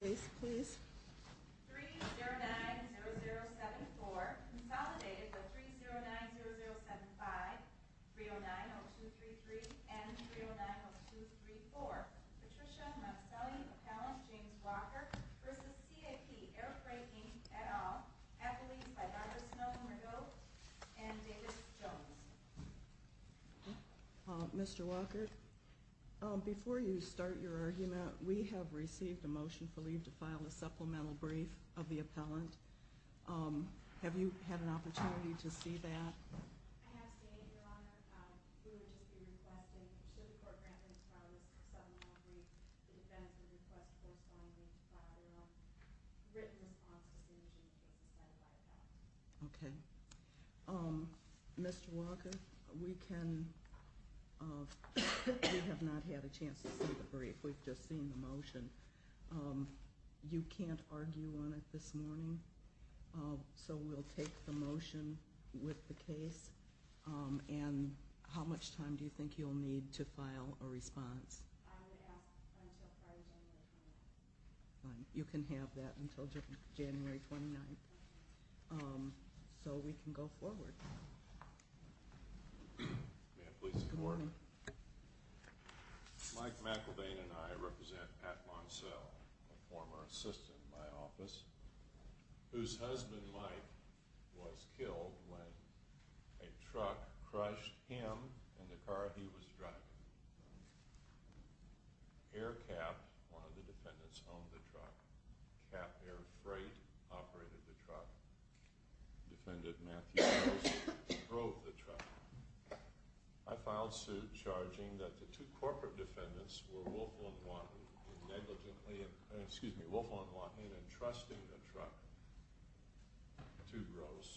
Please, please. 3-0-9-0-0-7-4, consolidated with 3-0-9-0-0-7-5, 3-0-9-0-2-3-3, and 3-0-9-0-2-3-4, Patricia Moncelle, Appellant James Walker v. C.A.P. Air Freight, Inc., et al., received a motion for leave to file a supplemental brief of the appellant. Have you had an opportunity to see that? I have, C.A.P. Your Honor. We would just be requesting, should the court grant leave to file a supplemental brief, the defense would request a corresponding leave to file a written response to the decision that was decided by the appellant. Okay. Mr. Walker, we have not had a chance to see the brief. We've just seen the motion. You can't argue on it this morning, so we'll take the motion with the case, and how much time do you think you'll need to file a response? I would ask until Friday, January 29th. You can have that until January 29th, so we can go forward. May I please see the board? Mike McElvain and I represent Pat Moncelle, a former assistant in my office, whose husband, Mike, was killed when a truck crushed him in the car he was driving. Air Cap, one of the defendants, owned the truck. Cap Air Freight operated the truck. Defendant Matthew Rose drove the truck. I filed suit charging that the two corporate defendants were Woelfel and Wahin entrusting the truck to Gross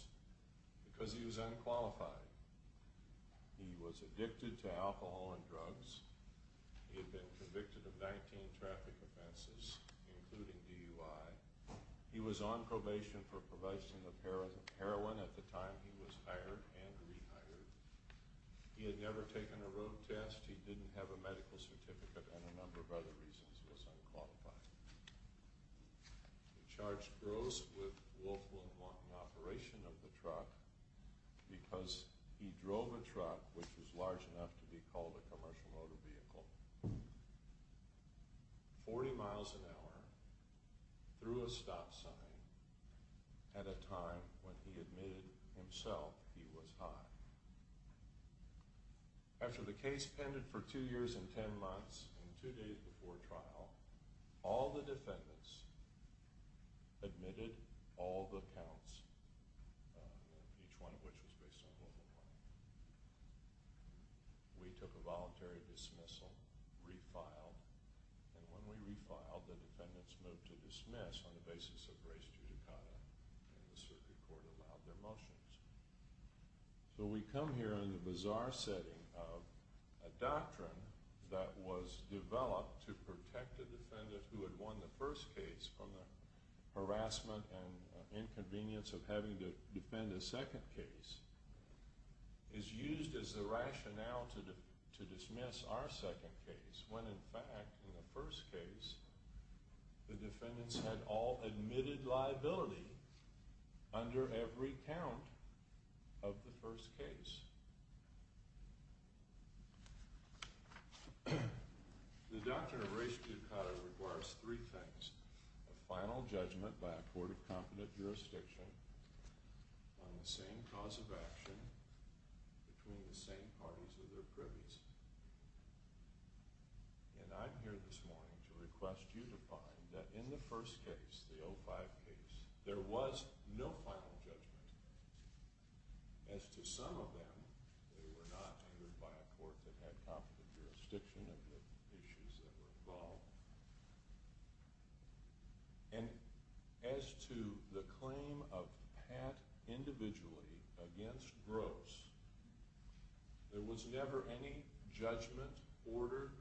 because he was unqualified. He was addicted to alcohol and drugs. He had been convicted of 19 traffic offenses, including DUI. He was on probation for provision of heroin at the time he was hired and rehired. He had never taken a road test. He didn't have a medical certificate and a number of other reasons. He was unqualified. We charged Gross with Woelfel and Wahin operation of the truck because he drove a truck which was large enough to be called a commercial motor vehicle 40 miles an hour through a stop sign at a time when he admitted himself he was high. After the case pended for two years and ten months and two days before trial, all the defendants admitted all the counts, each one of which was based on Woelfel and Wahin. We took a voluntary dismissal, refiled, and when we refiled, the defendants moved to dismiss on the basis of race, judicata, and the circuit court allowed their motions. So we come here in the bizarre setting of a doctrine that was developed to protect the defendant who had won the first case from the harassment and inconvenience of having to defend a second case. The doctrine of race, judicata, is used as the rationale to dismiss our second case when, in fact, in the first case, the defendants had all admitted liability under every count of the first case. The doctrine of race, judicata, requires three things, a final judgment by a court of competent jurisdiction on the same cause of action between the same parties of their privies. And I'm here this morning to request you to find that in the first case, the 05 case, there was no final judgment. As to some of them, they were not heard by a court that had competent jurisdiction of the issues that were involved. And as to the claim of Pat individually against Gross, there was never any judgment, order,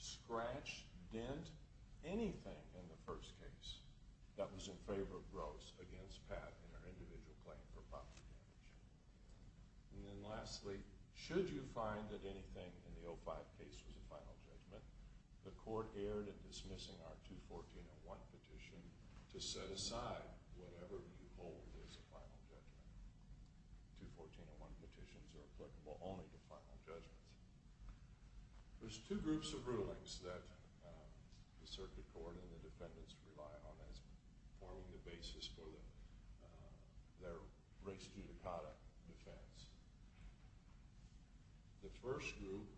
scratch, dent, anything in the first case that was in favor of Gross against Pat in her individual claim for property damage. And then lastly, should you find that anything in the 05 case was a final judgment, the court erred in dismissing our 214.01 petition to set aside whatever you hold is a final judgment. 214.01 petitions are applicable only to final judgments. There's two groups of rulings that the circuit court and the defendants rely on as forming the basis for their race, judicata defense. The first group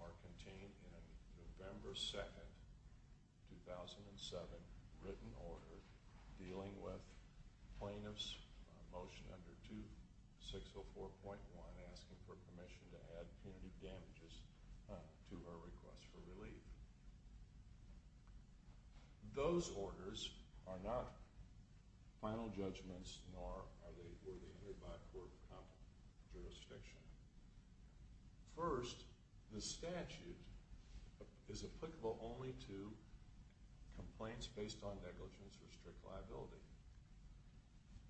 are contained in a November 2, 2007, written order dealing with plaintiff's motion under 2604.1 asking for permission to add punitive damages to her request for relief. Those orders are not final judgments, nor were they heard by a court of competent jurisdiction. First, the statute is applicable only to complaints based on negligence or strict liability.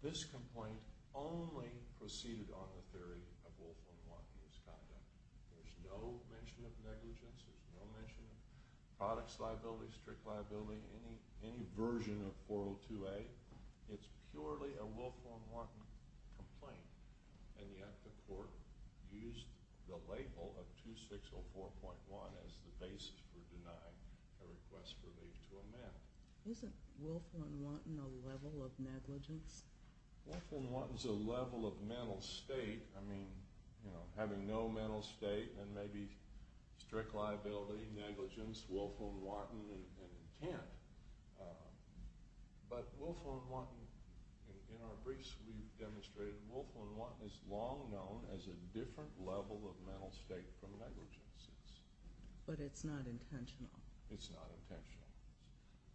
This complaint only proceeded on the theory of Wolfram-Wanton's conduct. There's no mention of negligence, there's no mention of products liability, strict liability, any version of 402A. It's purely a Wolfram-Wanton complaint, and yet the court used the label of 2604.1 as the basis for denying her request for relief to amend. Isn't Wolfram-Wanton a level of negligence? Wolfram-Wanton's a level of mental state. I mean, you know, having no mental state and maybe strict liability, negligence, Wolfram-Wanton, and intent. But Wolfram-Wanton, in our briefs we've demonstrated, Wolfram-Wanton is long known as a different level of mental state from negligence. But it's not intentional. It's not intentional.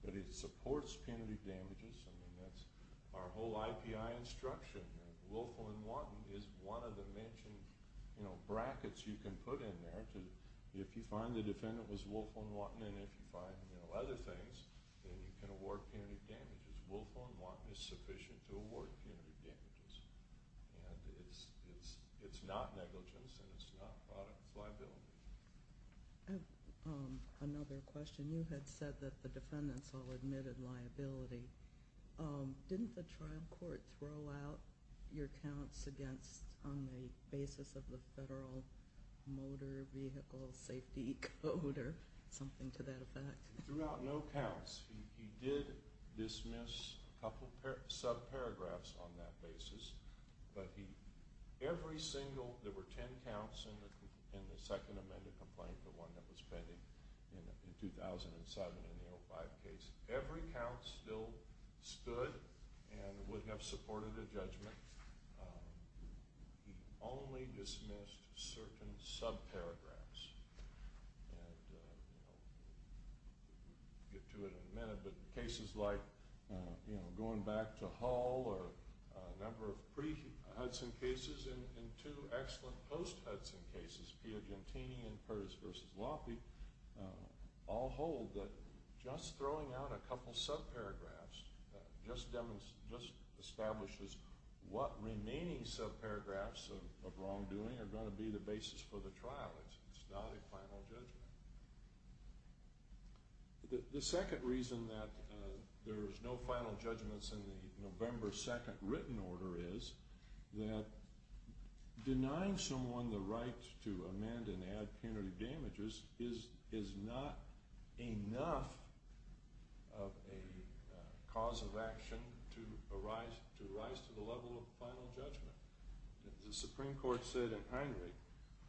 But it supports punitive damages. I mean, that's our whole IPI instruction. Wolfram-Wanton is one of the mentioned, you know, brackets you can put in there to, if you find the defendant was Wolfram-Wanton, and if you find, you know, other things, then you can award punitive damages. Wolfram-Wanton is sufficient to award punitive damages. And it's not negligence, and it's not products liability. I have another question. You had said that the defendants all admitted liability. Didn't the trial court throw out your counts against, on the basis of the Federal Motor Vehicle Safety Code or something to that effect? He threw out no counts. He did dismiss a couple subparagraphs on that basis. But he, every single, there were 10 counts in the second amended complaint, the one that was pending in 2007 in the 05 case. Every count still stood and would have supported a judgment. He only dismissed certain subparagraphs. And, you know, we'll get to it in a minute, but cases like, you know, going back to Hull or a number of pre-Hudson cases and two excellent post-Hudson cases, Piagentini and Curtis v. Loffey, all hold that just throwing out a couple subparagraphs just establishes what the defendant did. What remaining subparagraphs of wrongdoing are going to be the basis for the trial. It's not a final judgment. The second reason that there's no final judgments in the November 2nd written order is that denying someone the right to amend and add punitive damages is not enough of a cause of action to arise to the level of final judgment. The Supreme Court said in Heinrich,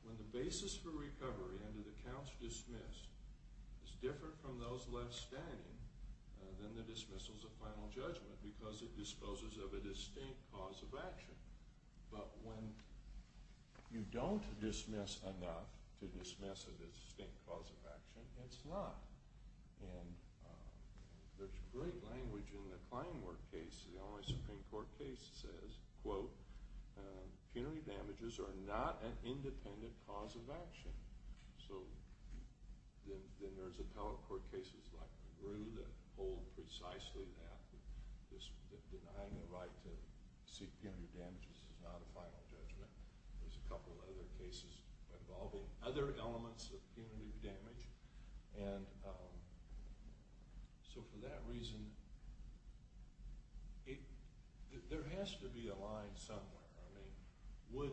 when the basis for recovery under the counts dismissed is different from those left standing, then the dismissal is a final judgment because it disposes of a distinct cause of action. But when you don't dismiss enough to dismiss a distinct cause of action, it's not. And there's great language in the Kleinworth case, the only Supreme Court case that says, quote, punitive damages are not an independent cause of action. So then there's appellate court cases like McGrew that hold precisely that, that denying the right to seek punitive damages is not a final judgment. There's a couple other cases involving other elements of punitive damage. And so for that reason, there has to be a line somewhere. I mean, would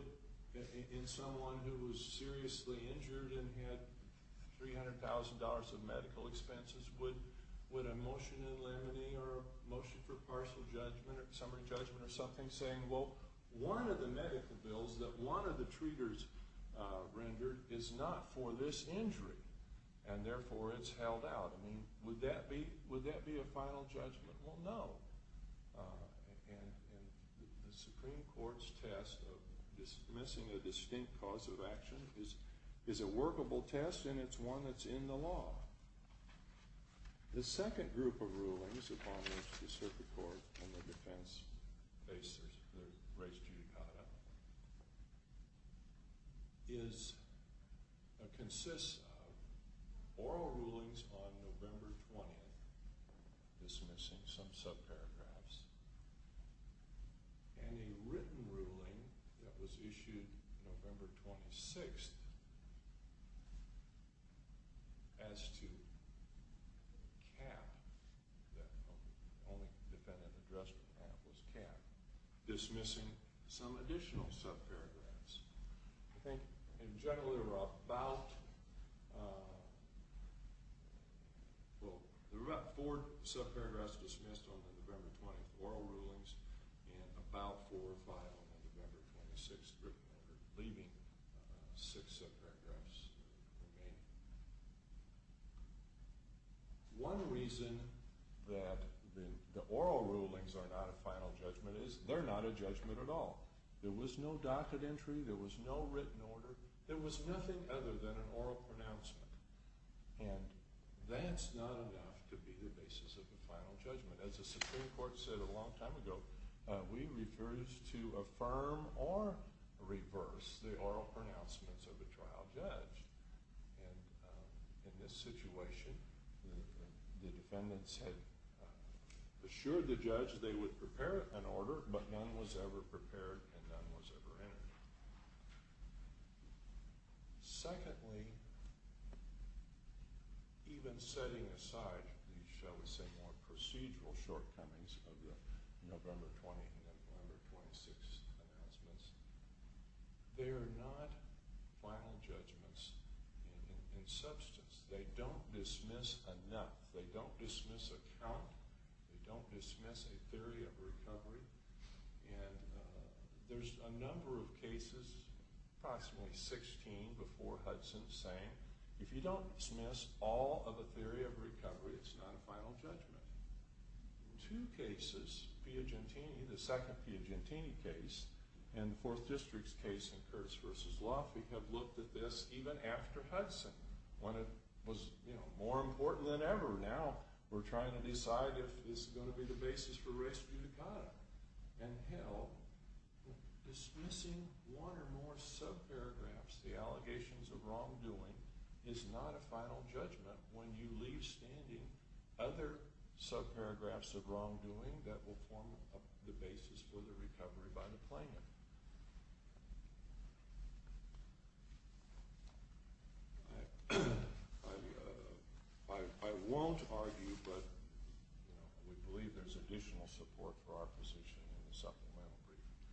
someone who was seriously injured and had $300,000 of medical expenses, would a motion in limine or a motion for partial judgment or summary judgment or something saying, well, one of the medical bills that one of the treaters rendered is not for this injury and therefore it's held out. I mean, would that be a final judgment? Well, no. And the Supreme Court's test of dismissing a distinct cause of action is a workable test, and it's one that's in the law. The second group of rulings upon which the circuit court and the defense face their race judicata consists of oral rulings on November 20th, dismissing some subparagraphs, and a written ruling that was issued November 26th as to cap, that only defendant addressed with cap, was cap, dismissing some additional subparagraphs. I think in general there were about, well, there were about four subparagraphs dismissed on the November 20th oral rulings and about four or five on the November 26th written order, leaving six subparagraphs remaining. One reason that the oral rulings are not a final judgment is they're not a judgment at all. There was no docket entry. There was no written order. There was nothing other than an oral pronouncement. And that's not enough to be the basis of a final judgment. As the Supreme Court said a long time ago, we refer to affirm or reverse the oral pronouncements of a trial judge. And in this situation, the defendants had assured the judge they would prepare an order, but none was ever prepared and none was ever entered. Secondly, even setting aside the, shall we say, more procedural shortcomings of the November 20th and the November 26th announcements, they are not final judgments in substance. They don't dismiss enough. They don't dismiss a count. They don't dismiss a theory of recovery. And there's a number of cases, approximately 16 before Hudson, saying if you don't dismiss all of a theory of recovery, it's not a final judgment. Two cases, Piagentini, the second Piagentini case, and the Fourth District's case in Curtis v. Luff, we have looked at this even after Hudson, when it was more important than ever. Now we're trying to decide if this is going to be the basis for res judicata. And, hell, dismissing one or more subparagraphs, the allegations of wrongdoing, is not a final judgment when you leave standing other subparagraphs of wrongdoing that will form the basis for the recovery by the plaintiff. I won't argue, but we believe there's additional support for our position in the supplemental briefing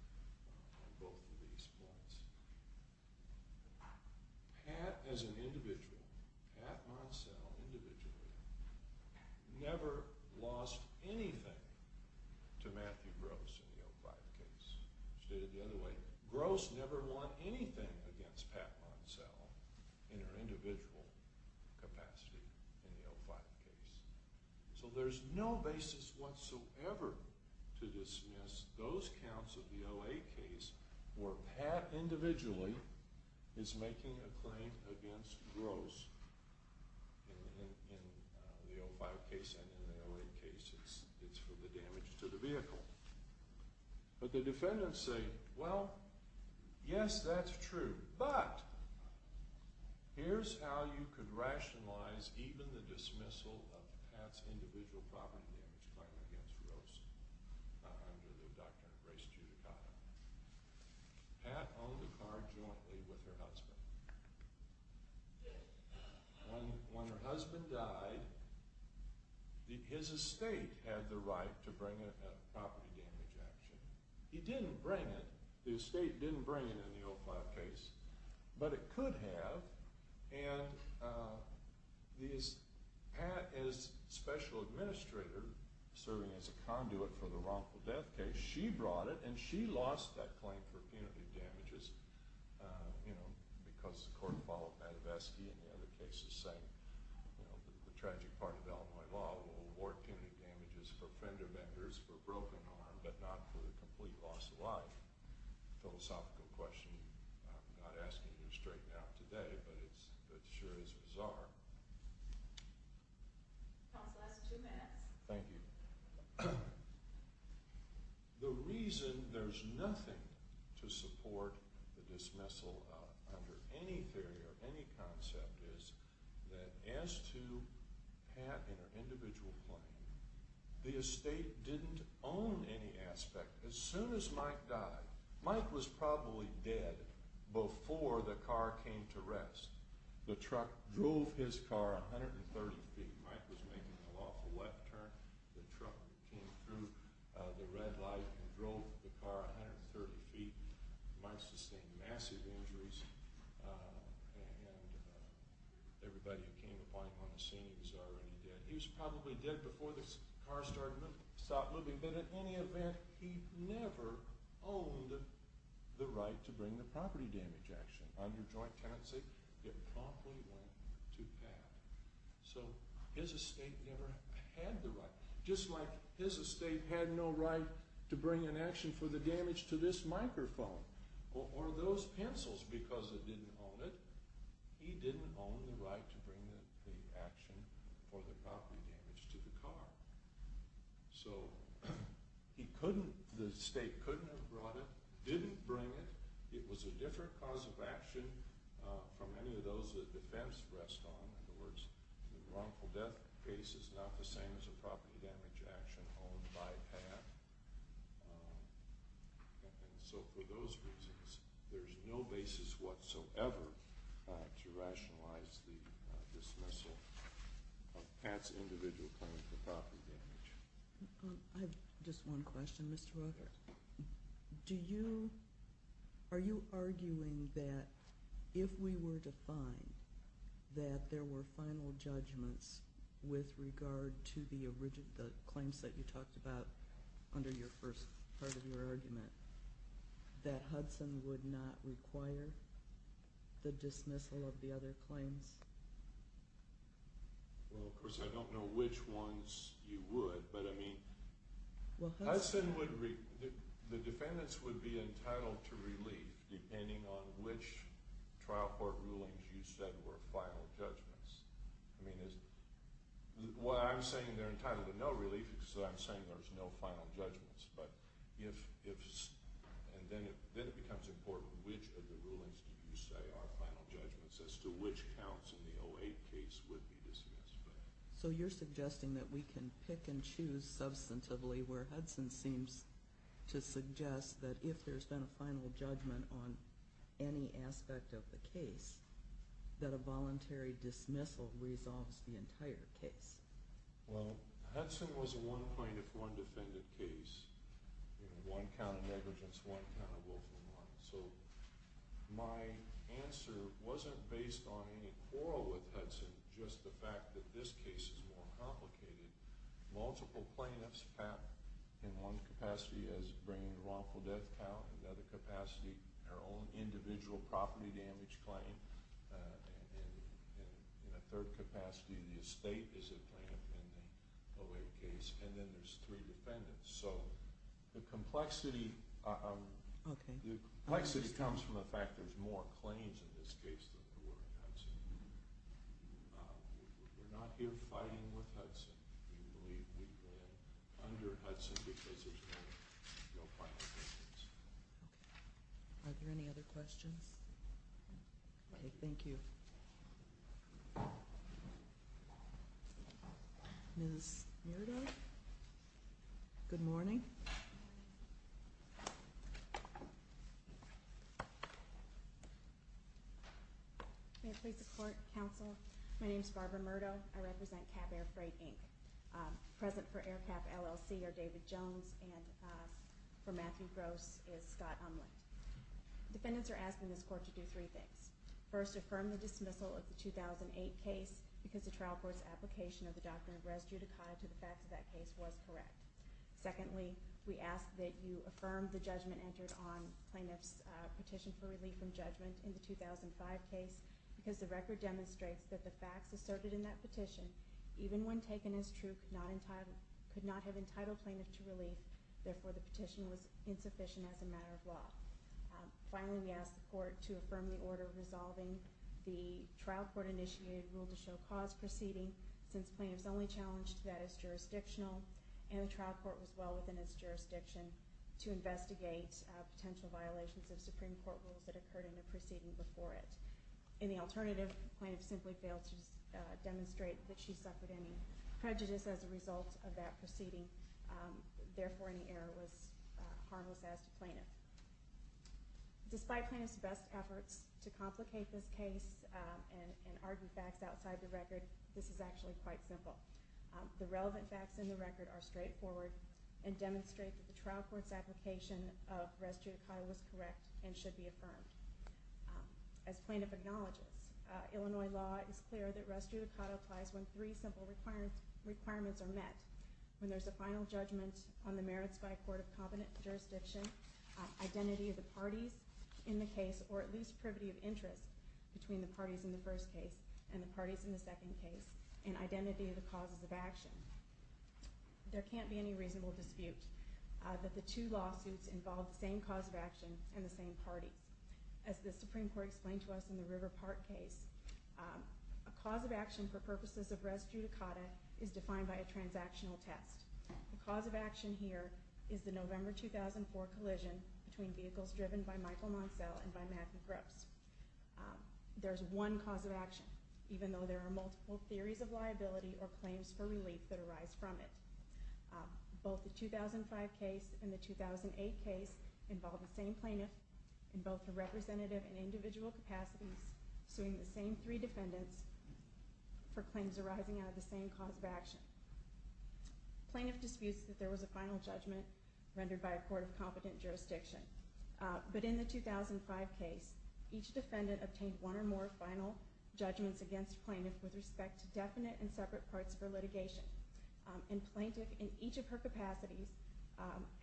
on both of these points. Pat, as an individual, Pat Monselle, individually, never lost anything to Matthew Gross in the O5 case. Stated the other way, Gross never won anything against Pat Monselle in her individual capacity in the O5 case. So there's no basis whatsoever to dismiss those counts of the OA case where Pat, individually, is making a claim against Gross in the O5 case and in the OA case. It's for the damage to the vehicle. But the defendants say, well, yes, that's true. But, here's how you could rationalize even the dismissal of Pat's individual property damage claim against Gross under the doctrine of res judicata. Pat owned a car jointly with her husband. When her husband died, his estate had the right to bring in a property damage action. He didn't bring it. The estate didn't bring it in the O5 case, but it could have. And Pat, as special administrator serving as a conduit for the wrongful death case, she brought it and she lost that claim for punitive damages because the court followed Madoveski and the other cases saying that the tragic part of Illinois law will award punitive damages for fender benders, for a broken arm, but not for the complete loss of life. Philosophical question. I'm not asking you straight now today, but it sure is bizarre. Counsel, last two minutes. Thank you. The reason there's nothing to support the dismissal under any theory or any concept is that as to Pat and her individual claim, the estate didn't own any aspect. As soon as Mike died, Mike was probably dead before the car came to rest. The truck drove his car 130 feet. Mike was making an awful left turn. The truck came through the red light and drove the car 130 feet. Mike sustained massive injuries and everybody who came upon him on the scene, he was already dead. He was probably dead before the car stopped moving, but in any event, he never owned the right to bring the property damage action on your joint tenancy. It promptly went to Pat. So his estate never had the right. Just like his estate had no right to bring an action for the damage to this microphone or those pencils because it didn't own it, he didn't own the right to bring the action for the property damage to the car. So the estate couldn't have brought it, didn't bring it. It was a different cause of action from any of those that defense rests on. In other words, the wrongful death case is not the same as a property damage action owned by Pat. And so for those reasons, there's no basis whatsoever to rationalize the dismissal of Pat's individual claim for property damage. I have just one question, Mr. Walker. Do you, are you arguing that if we were to find that there were final judgments with regard to the original claims that you talked about under your first part of your argument, that Hudson would not require the dismissal of the other claims? Well, of course, I don't know which ones you would. But I mean, Hudson would, the defendants would be entitled to relief depending on which trial court rulings you said were final judgments. I mean, what I'm saying, they're entitled to no relief because I'm saying there's no final judgments. But if, and then it becomes important, which of the rulings did you say are final judgments as to which counts in the 08 case would be dismissed? So you're suggesting that we can pick and choose substantively where Hudson seems to suggest that if there's been a final judgment on any aspect of the case, that a voluntary dismissal resolves the entire case. Well, Hudson was a one plaintiff, one defendant case. You know, one count of negligence, one count of willful harm. So my answer wasn't based on any quarrel with Hudson, just the fact that this case is more complicated. Multiple plaintiffs have, in one capacity, is bringing a wrongful death count. In another capacity, their own individual property damage claim. In a third capacity, the estate is a plaintiff in the 08 case. And then there's three defendants. So the complexity comes from the fact there's more claims in this case than there were in Hudson. We're not here fighting with Hudson. We believe we win under Hudson because there's been no final judgments. Okay. Are there any other questions? Okay, thank you. Ms. Murdo? Good morning. May it please the Court, Counsel. My name is Barbara Murdo. I represent Cap Air Freight, Inc. Present for Air Cap LLC are David Jones, and for Matthew Gross is Scott Umland. Defendants are asking this Court to do three things. First, affirm the dismissal of the 2008 case because the trial court's application of the doctrine of res judicata to the facts of that case was correct. Secondly, we ask that you affirm the judgment entered on plaintiff's petition for relief from judgment in the 2005 case because the record demonstrates that the facts asserted in that petition, even when taken as true, could not have entitled plaintiff to relief, therefore the petition was insufficient as a matter of law. Finally, we ask the Court to affirm the order resolving the trial court-initiated rule-to-show-cause proceeding since plaintiff's only challenge to that is jurisdictional, and the trial court was well within its jurisdiction to investigate potential violations of Supreme Court rules that occurred in the proceeding before it. In the alternative, plaintiff simply failed to demonstrate that she suffered any prejudice as a result of that proceeding, therefore any error was harmless as to plaintiff. Despite plaintiff's best efforts to complicate this case and argue facts outside the record, this is actually quite simple. The relevant facts in the record are straightforward and demonstrate that the trial court's application of res judicata was correct and should be affirmed. As plaintiff acknowledges, Illinois law is clear that res judicata applies when three simple requirements are met. When there's a final judgment on the merits by a court of competent jurisdiction, identity of the parties in the case, or at least privity of interest between the parties in the first case and the parties in the second case, and identity of the causes of action. There can't be any reasonable dispute that the two lawsuits involve the same cause of action and the same parties. As the Supreme Court explained to us in the River Park case, a cause of action for purposes of res judicata is defined by a transactional test. The cause of action here is the November 2004 collision between vehicles driven by Michael Moncel and by Matthew Grubbs. There's one cause of action, even though there are multiple theories of liability or claims for relief that arise from it. Both the 2005 case and the 2008 case involve the same plaintiff in both the representative and individual capacities suing the same three defendants for claims arising out of the same cause of action. Plaintiff disputes that there was a final judgment rendered by a court of competent jurisdiction. But in the 2005 case, each defendant obtained one or more final judgments against plaintiff with respect to definite and separate parts of her litigation. And plaintiff in each of her capacities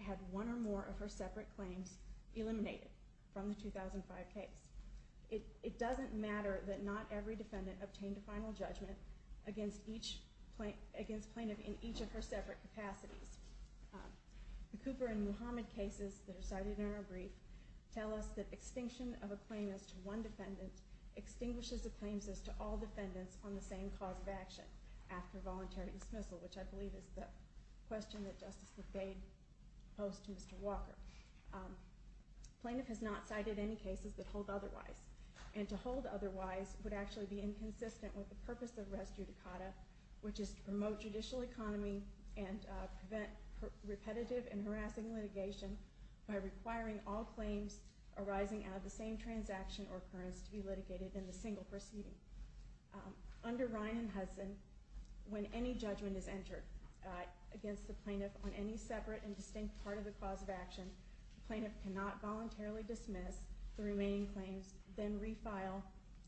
had one or more of her separate claims eliminated from the 2005 case. It doesn't matter that not every defendant obtained a final judgment against plaintiff in each of her separate capacities. The Cooper and Muhammad cases that are cited in our brief tell us that extinction of a claim as to one defendant extinguishes the claims as to all defendants on the same cause of action after voluntary dismissal, which I believe is the question that Justice McBade posed to Mr. Walker. Plaintiff has not cited any cases that hold otherwise. And to hold otherwise would actually be inconsistent with the purpose of res judicata, which is to promote judicial economy and prevent repetitive and harassing litigation by requiring all claims arising out of the same transaction or occurrence to be litigated in the single proceeding. Under Ryan and Hudson, when any judgment is entered against the plaintiff on any separate and distinct part of the cause of action, the plaintiff cannot voluntarily dismiss the remaining claims, then refile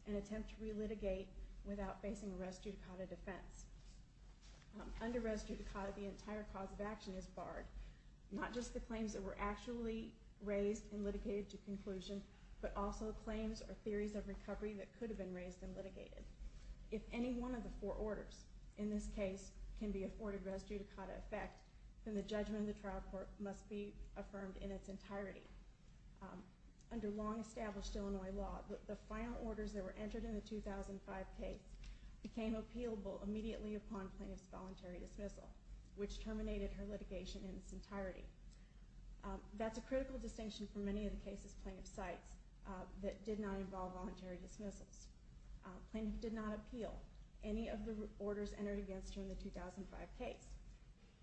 and attempt to relitigate without facing a res judicata defense. Under res judicata, the entire cause of action is barred. Not just the claims that were actually raised and litigated to conclusion, but also claims or theories of recovery that could have been raised and litigated. If any one of the four orders in this case can be afforded res judicata effect, then the judgment of the trial court must be affirmed in its entirety. Under long-established Illinois law, the final orders that were entered in the 2005 case became appealable immediately upon plaintiff's voluntary dismissal, which terminated her litigation in its entirety. That's a critical distinction for many of the cases plaintiff cites that did not involve voluntary dismissals. Plaintiff did not appeal any of the orders entered against her in the 2005 case,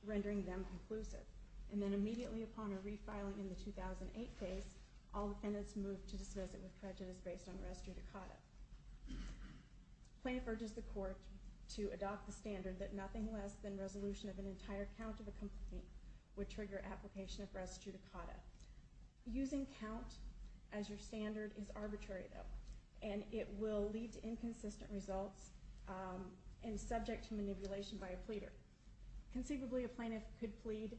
rendering them conclusive. And then immediately upon her refiling in the 2008 case, all defendants moved to dismiss it with prejudice based on res judicata. Plaintiff urges the court to adopt the standard that nothing less than resolution of an entire count of a complaint would trigger application of res judicata. Using count as your standard is arbitrary though, and it will lead to inconsistent results and subject to manipulation by a pleader. Conceivably, a plaintiff could plead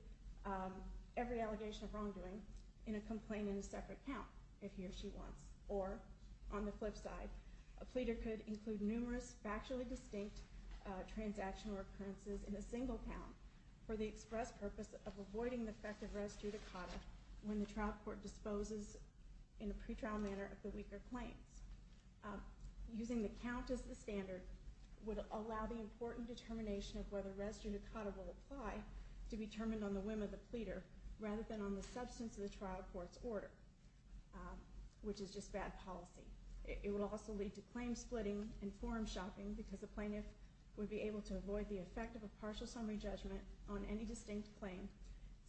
every allegation of wrongdoing in a complaint in a separate count if he or she wants. Or, on the flip side, a pleader could include numerous factually distinct transactional occurrences in a single count for the express purpose of avoiding the effect of res judicata when the trial court disposes in a pretrial manner of the weaker claims. Using the count as the standard would allow the important determination of whether res judicata will apply to be determined on the whim of the pleader rather than on the substance of the trial court's order, which is just bad policy. It would also lead to claim splitting and forum shopping because a plaintiff would be able to avoid the effect of a partial summary judgment on any distinct claim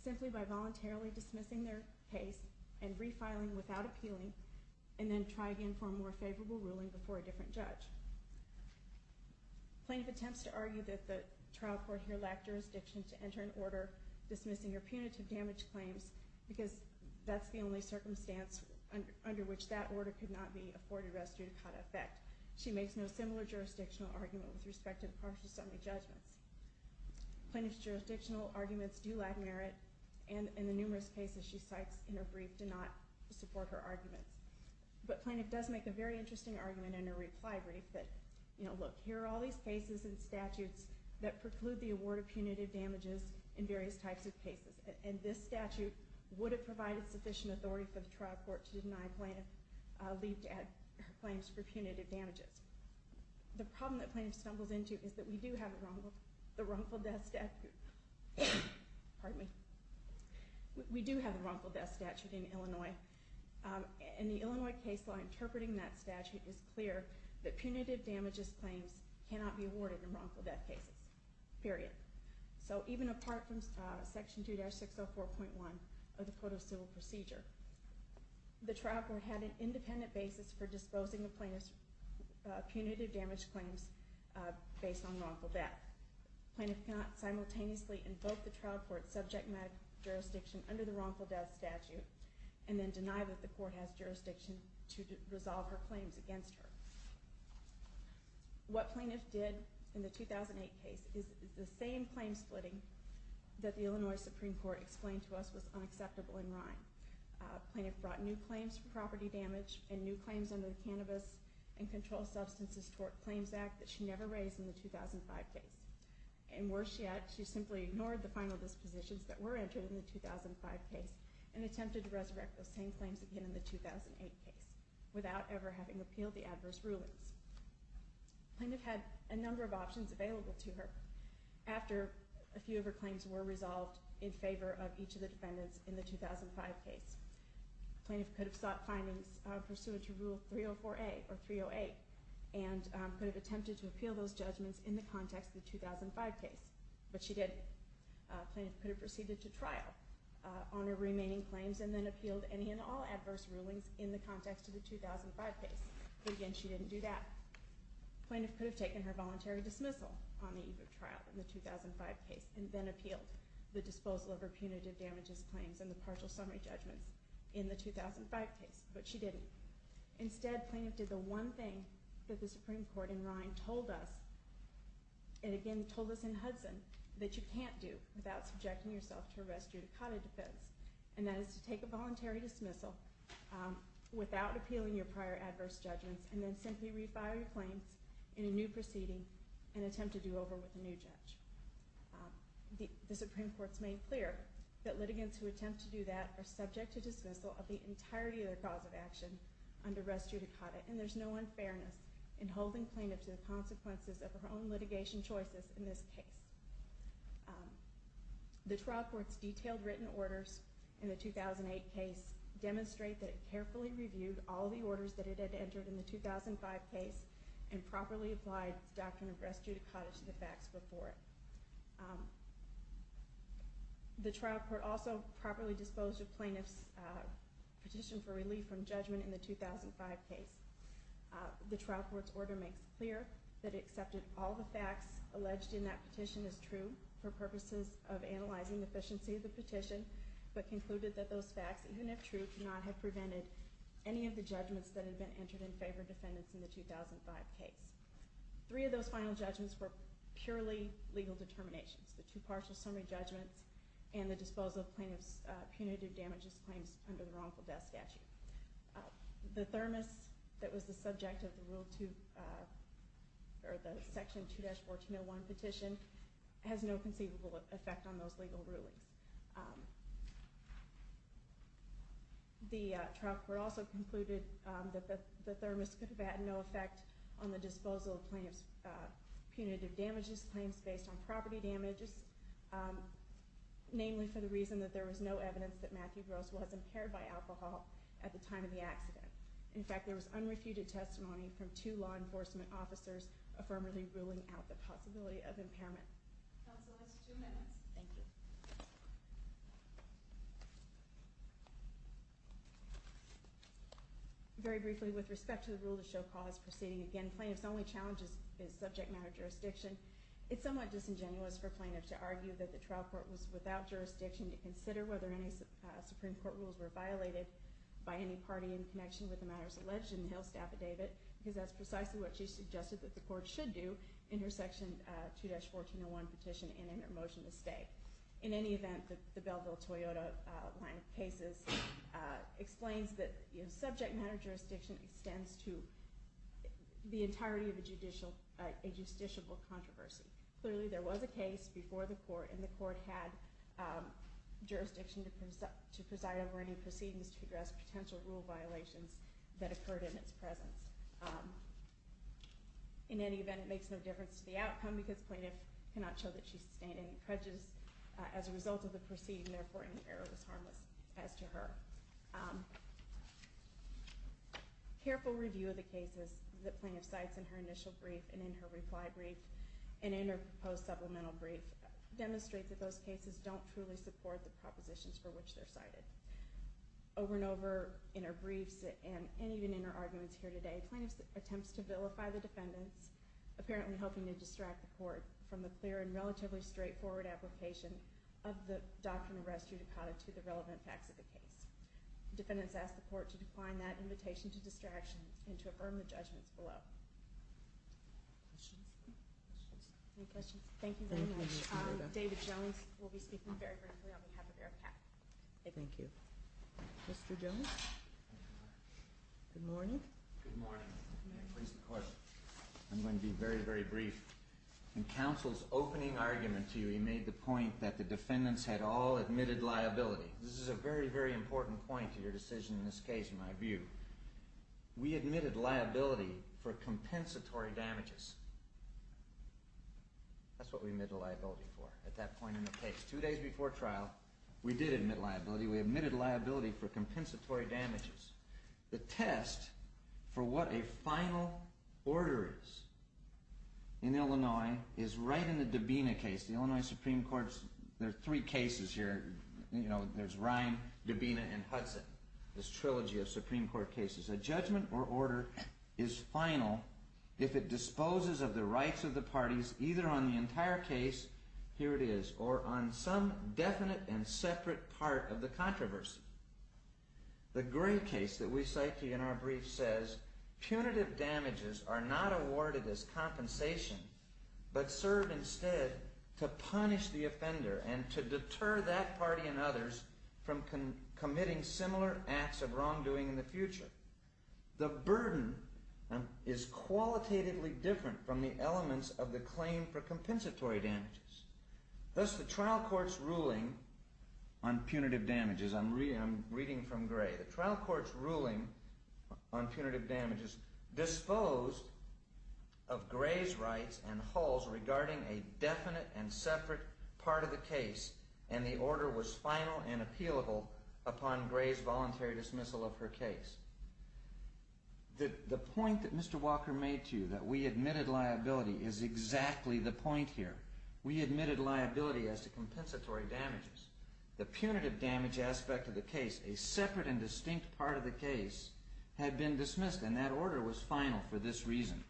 simply by voluntarily dismissing their case and refiling without appealing and then try again for a more favorable ruling before a different judge. Plaintiff attempts to argue that the trial court here lacked jurisdiction to enter an order dismissing her punitive damage claims because that's the only circumstance under which that order could not be afforded res judicata effect. She makes no similar jurisdictional argument with respect to partial summary judgments. Plaintiff's jurisdictional arguments do lack merit, and the numerous cases she cites in her brief do not support her arguments. But plaintiff does make a very interesting argument in her reply brief that, you know, look, here are all these cases and statutes that preclude the award of punitive damages in various types of cases, and this statute would have provided sufficient authority for the trial court to deny plaintiff leave to add her claims for punitive damages. The problem that plaintiff stumbles into is that we do have the wrongful death statute. Pardon me. We do have the wrongful death statute in Illinois, and the Illinois case law interpreting that statute is clear that punitive damages claims cannot be awarded in wrongful death cases, period. So even apart from Section 2-604.1 of the Code of Civil Procedure, the trial court had an independent basis for disposing of plaintiff's punitive damage claims based on wrongful death. Plaintiff cannot simultaneously invoke the trial court's subject matter jurisdiction under the wrongful death statute, and then deny that the court has jurisdiction to resolve her claims against her. What plaintiff did in the 2008 case is the same claim splitting that the Illinois Supreme Court explained to us was unacceptable in Rhine. Plaintiff brought new claims for property damage, and new claims under the Cannabis and Controlled Substances Tort Claims Act that she never raised in the 2005 case. And worse yet, she simply ignored the final dispositions that were entered in the 2005 case and attempted to resurrect those same claims again in the 2008 case without ever having appealed the adverse rulings. Plaintiff had a number of options available to her after a few of her claims were resolved in favor of each of the defendants in the 2005 case. Plaintiff could have sought findings pursuant to Rule 304A or 308 and could have attempted to appeal those judgments in the context of the 2005 case, but she didn't. Plaintiff could have proceeded to trial on her remaining claims and then appealed any and all adverse rulings in the context of the 2005 case, but again she didn't do that. Plaintiff could have taken her voluntary dismissal on the eve of trial in the 2005 case and then appealed the disposal of her punitive damages claims and the partial summary judgments in the 2005 case, but she didn't. Instead, plaintiff did the one thing that the Supreme Court in Rhine told us and again told us in Hudson, that you can't do without subjecting yourself to arrest judicata defense and that is to take a voluntary dismissal without appealing your prior adverse judgments and then simply refile your claims in a new proceeding and attempt to do over with a new judge. The Supreme Court's made clear that litigants who attempt to do that are subject to dismissal of the entirety of their cause of action under arrest judicata and there's no unfairness in holding plaintiff to the consequences of her own litigation choices in this case. The trial court's detailed written orders in the 2008 case demonstrate that it carefully reviewed all the orders that it had entered in the 2005 case and properly applied the doctrine of arrest judicata to the facts before it. The trial court also properly disposed of plaintiff's petition for relief from judgment in the 2005 case. The trial court's order makes clear that it accepted all the facts alleged in that petition as true for purposes of analyzing the efficiency of the petition, but concluded that those facts, even if true, could not have prevented any of the judgments that had been entered in favor of defendants in the 2005 case. Three of those final judgments were purely legal determinations. The two partial summary judgments and the disposal of plaintiff's punitive damages claims under the wrongful death statute. The thermos that was the subject of the section 2-1401 petition has no conceivable effect on those legal rulings. The trial court also concluded that the thermos could have had no effect on the disposal of plaintiff's punitive damages claims based on property damages, namely for the reason that there was no evidence that Matthew Gross was impaired by alcohol at the time of the accident. In fact, there was unrefuted testimony from two law enforcement officers affirmatively ruling out the possibility of impairment. Counsel has two minutes. Thank you. Very briefly, with respect to the rule to show cause proceeding again, plaintiff's only challenge is subject matter jurisdiction. It's somewhat disingenuous for plaintiff to argue that the trial court was without jurisdiction to consider whether any Supreme Court rules were violated by any party in connection with the matters alleged in the Hill's affidavit, because that's precisely what she suggested that the court should do in her section 2-1401 petition and in her motion to stay. In any event, the Belleville-Toyota line of cases explains that subject matter jurisdiction extends to the entirety of a justiciable controversy. Clearly, there was a case before the court, and the court had jurisdiction to preside over any proceedings to address potential rule violations that occurred in its presence. In any event, it makes no difference to the outcome, because plaintiff cannot show that she sustained any prejudice as a result of the proceeding, and therefore any error was harmless as to her. Careful review of the cases that plaintiff cites in her initial brief and in her reply brief and in her proposed supplemental brief demonstrate that those cases don't truly support the propositions for which they're cited. Over and over in her briefs and even in her arguments here today, plaintiff attempts to vilify the defendants, apparently helping to distract the court from the clear and relatively straightforward application of the doctrine of res judicata to the relevant facts of the case. Defendants ask the court to decline that invitation to distraction and to affirm the judgments below. Questions? Any questions? Thank you very much. David Jones will be speaking very briefly on behalf of ARACAC. Thank you. Mr. Jones? Good morning. Good morning. May I please have a question? I'm going to be very, very brief. In counsel's opening argument to you, he made the point that the defendants had all admitted liability. This is a very, very important point to your decision in this case, in my view. We admitted liability for compensatory damages. That's what we admitted liability for at that point in the case. Two days before trial, we did admit liability. We admitted liability for compensatory damages. The test for what a final order is in Illinois is right in the Dabena case. The Illinois Supreme Court's three cases here. There's Ryan, Dabena, and Hudson. This trilogy of Supreme Court cases. A judgment or order is final if it disposes of the rights of the parties either on the entire case, here it is, or on some definite and separate part of the controversy. The Gray case that we cite to you in our brief says punitive damages are not awarded as compensation and to deter that party and others from committing similar acts of wrongdoing in the future. The burden is qualitatively different from the elements of the claim for compensatory damages. Thus, the trial court's ruling on punitive damages, I'm reading from Gray, the trial court's ruling on punitive damages disposed of Gray's rights and Hull's regarding a definite and separate part of the case and the order was final and appealable upon Gray's voluntary dismissal of her case. The point that Mr. Walker made to you, that we admitted liability, is exactly the point here. We admitted liability as to compensatory damages. The punitive damage aspect of the case, a separate and distinct part of the case, had been dismissed and that order was final for this reason.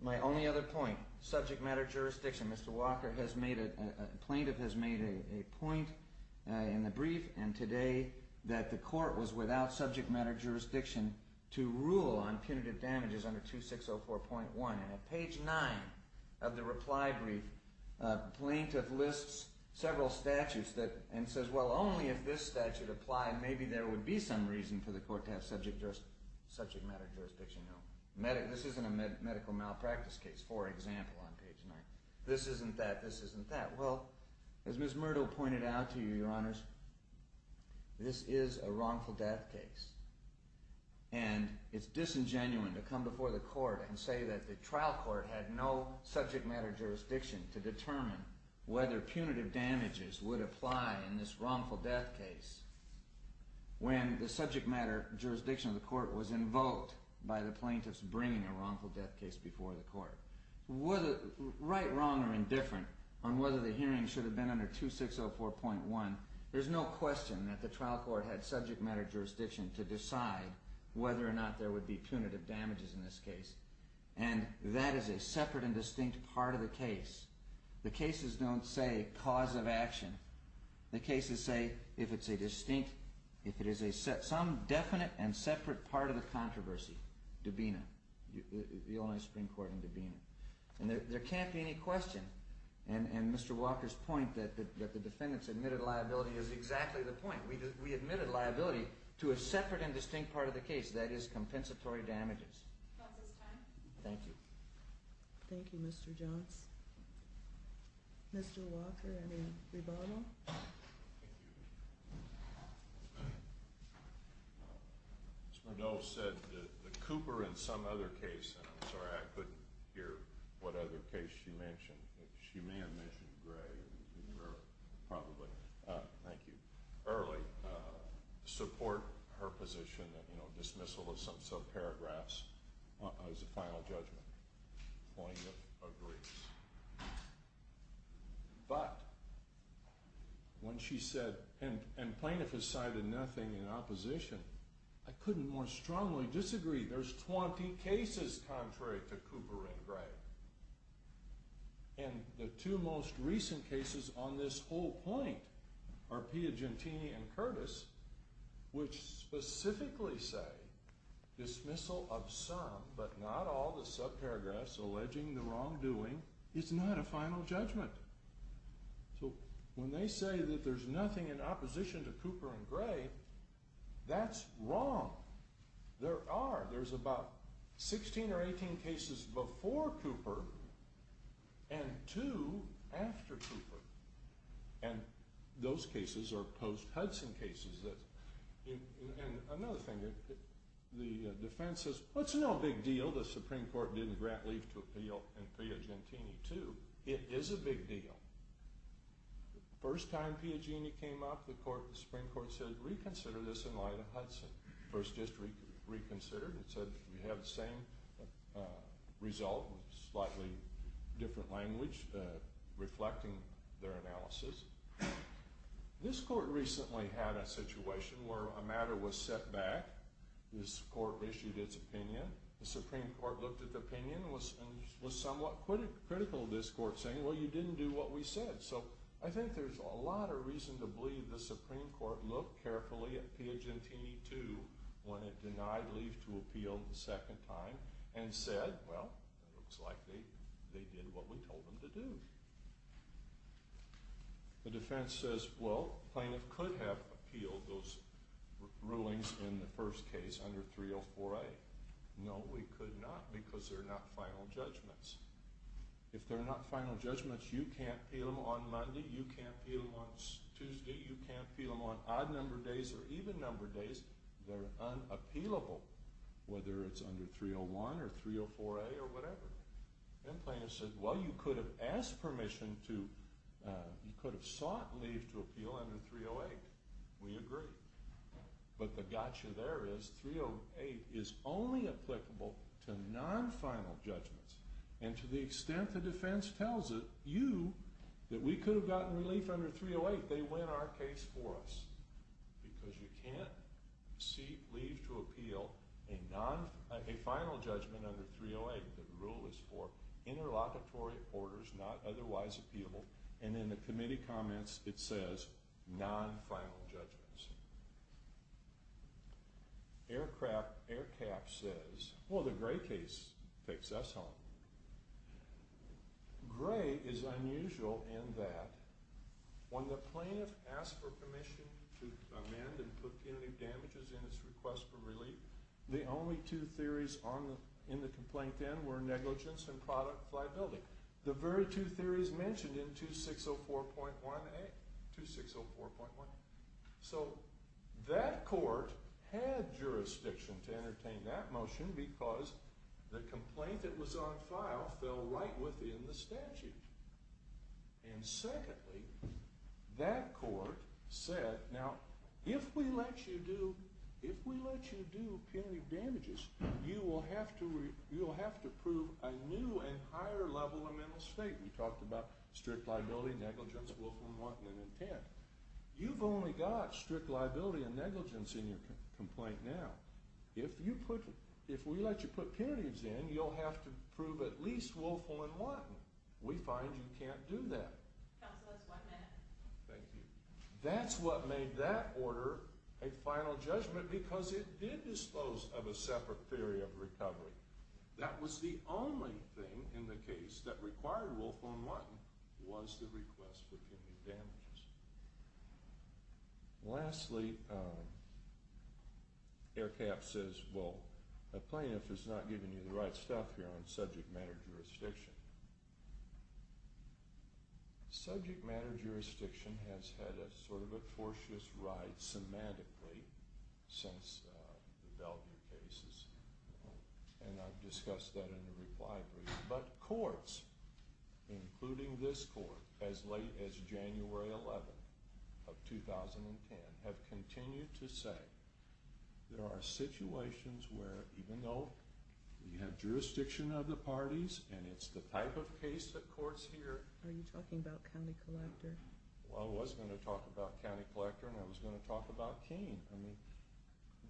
My only other point, subject matter jurisdiction. Mr. Walker, a plaintiff, has made a point in the brief and today that the court was without subject matter jurisdiction to rule on punitive damages under 2604.1. On page 9 of the reply brief, the plaintiff lists several statutes and says, well, only if this statute applied, maybe there would be some reason for the court to have subject matter jurisdiction. This isn't a medical malpractice case, for example, on page 9. This isn't that, this isn't that. Well, as Ms. Myrtle pointed out to you, Your Honors, this is a wrongful death case and it's disingenuine to come before the court and say that the trial court had no subject matter jurisdiction to determine whether punitive damages would apply in this wrongful death case when the subject matter jurisdiction of the court was invoked by the plaintiffs bringing a wrongful death case before the court. Right, wrong, or indifferent on whether the hearing should have been under 2604.1, there's no question that the trial court had subject matter jurisdiction to decide whether or not there would be punitive damages in this case and that is a separate and distinct part of the case. The cases don't say cause of action. The cases say if it's a distinct, if it is some definite and separate part of the controversy. Dubena, the only Supreme Court in Dubena. And there can't be any question, and Mr. Walker's point that the defendants admitted liability is exactly the point. We admitted liability to a separate and distinct part of the case, that is compensatory damages. That's his time. Thank you. Thank you, Mr. Johns. Mr. Walker, any rebuttal? Thank you. Ms. Murnau said that Cooper in some other case, and I'm sorry, I couldn't hear what other case she mentioned. She may have mentioned Gray, probably. Thank you. Early, support her position that, you know, dismissal of some subparagraphs as a final judgment. The plaintiff agrees. But when she said, and plaintiff has cited nothing in opposition, I couldn't more strongly disagree. There's 20 cases contrary to Cooper and Gray. And the two most recent cases on this whole point are Piagentini and Curtis, which specifically say dismissal of some, but not all, the subparagraphs alleging the wrongdoing is not a final judgment. So when they say that there's nothing in opposition to Cooper and Gray, that's wrong. There are. There's about 16 or 18 cases before Cooper and two after Cooper. And those cases are post-Hudson cases. And another thing. The defense says, well, it's no big deal. The Supreme Court didn't grant leave to appeal in Piagentini, too. It is a big deal. First time Piagentini came up, the Supreme Court said, reconsider this in light of Hudson. First district reconsidered. It said we have the same result, slightly different language reflecting their analysis. This court recently had a situation where a matter was set back. This court issued its opinion. The Supreme Court looked at the opinion and was somewhat critical of this court, saying, well, you didn't do what we said. So I think there's a lot of reason to believe the Supreme Court looked carefully at Piagentini, too, when it denied leave to appeal the second time and said, well, it looks like they did what we told them to do. The defense says, well, plaintiff could have appealed those rulings in the first case under 304A. No, we could not, because they're not final judgments. If they're not final judgments, you can't appeal them on Monday. You can't appeal them on Tuesday. You can't appeal them on odd number days or even number days. They're unappealable, whether it's under 301 or 304A or whatever. Then plaintiff said, well, you could have asked permission to, you could have sought leave to appeal under 308. We agree. But the gotcha there is 308 is only applicable to non-final judgments. And to the extent the defense tells you that we could have gotten relief under 308, they win our case for us, because you can't seek leave to appeal a final judgment under 308. The rule is for interlocutory orders, not otherwise appealable. And in the committee comments, it says non-final judgments. Air Cap says, well, the Gray case takes us home. Gray is unusual in that when the plaintiff asks for permission to amend and put punitive damages in its request for relief, the only two theories in the complaint then were negligence and product liability. The very two theories mentioned in 2604.1A, 2604.1A. So that court had jurisdiction to entertain that motion because the complaint that was on file fell right within the statute. And secondly, that court said, now, if we let you do punitive damages, you will have to prove a new and higher level of mental state. We talked about strict liability, negligence, willful and wanton intent. You've only got strict liability and negligence in your complaint now. If we let you put punitives in, you'll have to prove at least willful and wanton. We find you can't do that. Counsel, that's one minute. Thank you. That's what made that order a final judgment because it did dispose of a separate theory of recovery. That was the only thing in the case that required willful and wanton was the request for punitive damages. Lastly, Air Cap says, well, the plaintiff is not giving you the right stuff here on subject matter jurisdiction. Subject matter jurisdiction has had a sort of a tortuous ride semantically since the Belden cases, and I've discussed that in a reply brief. But courts, including this court, as late as January 11th of 2010, have continued to say there are situations where, even though we have jurisdiction of the parties and it's the type of case that courts hear. Are you talking about County Collector? Well, I was going to talk about County Collector and I was going to talk about Keene. I mean,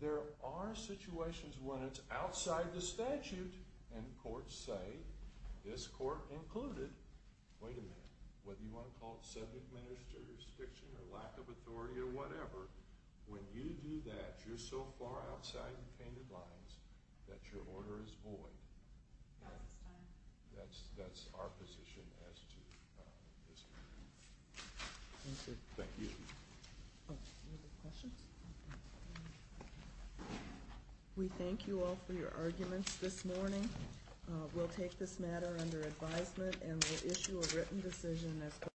there are situations when it's outside the statute and courts say, this court included, wait a minute, whether you want to call it subject matter jurisdiction or lack of authority or whatever, when you do that, you're so far outside the painted lines that your order is void. That's our position as to this case. Thank you. Any other questions? We thank you all for your arguments this morning. We'll take this matter under advisement and we'll issue a written decision as to whether or not...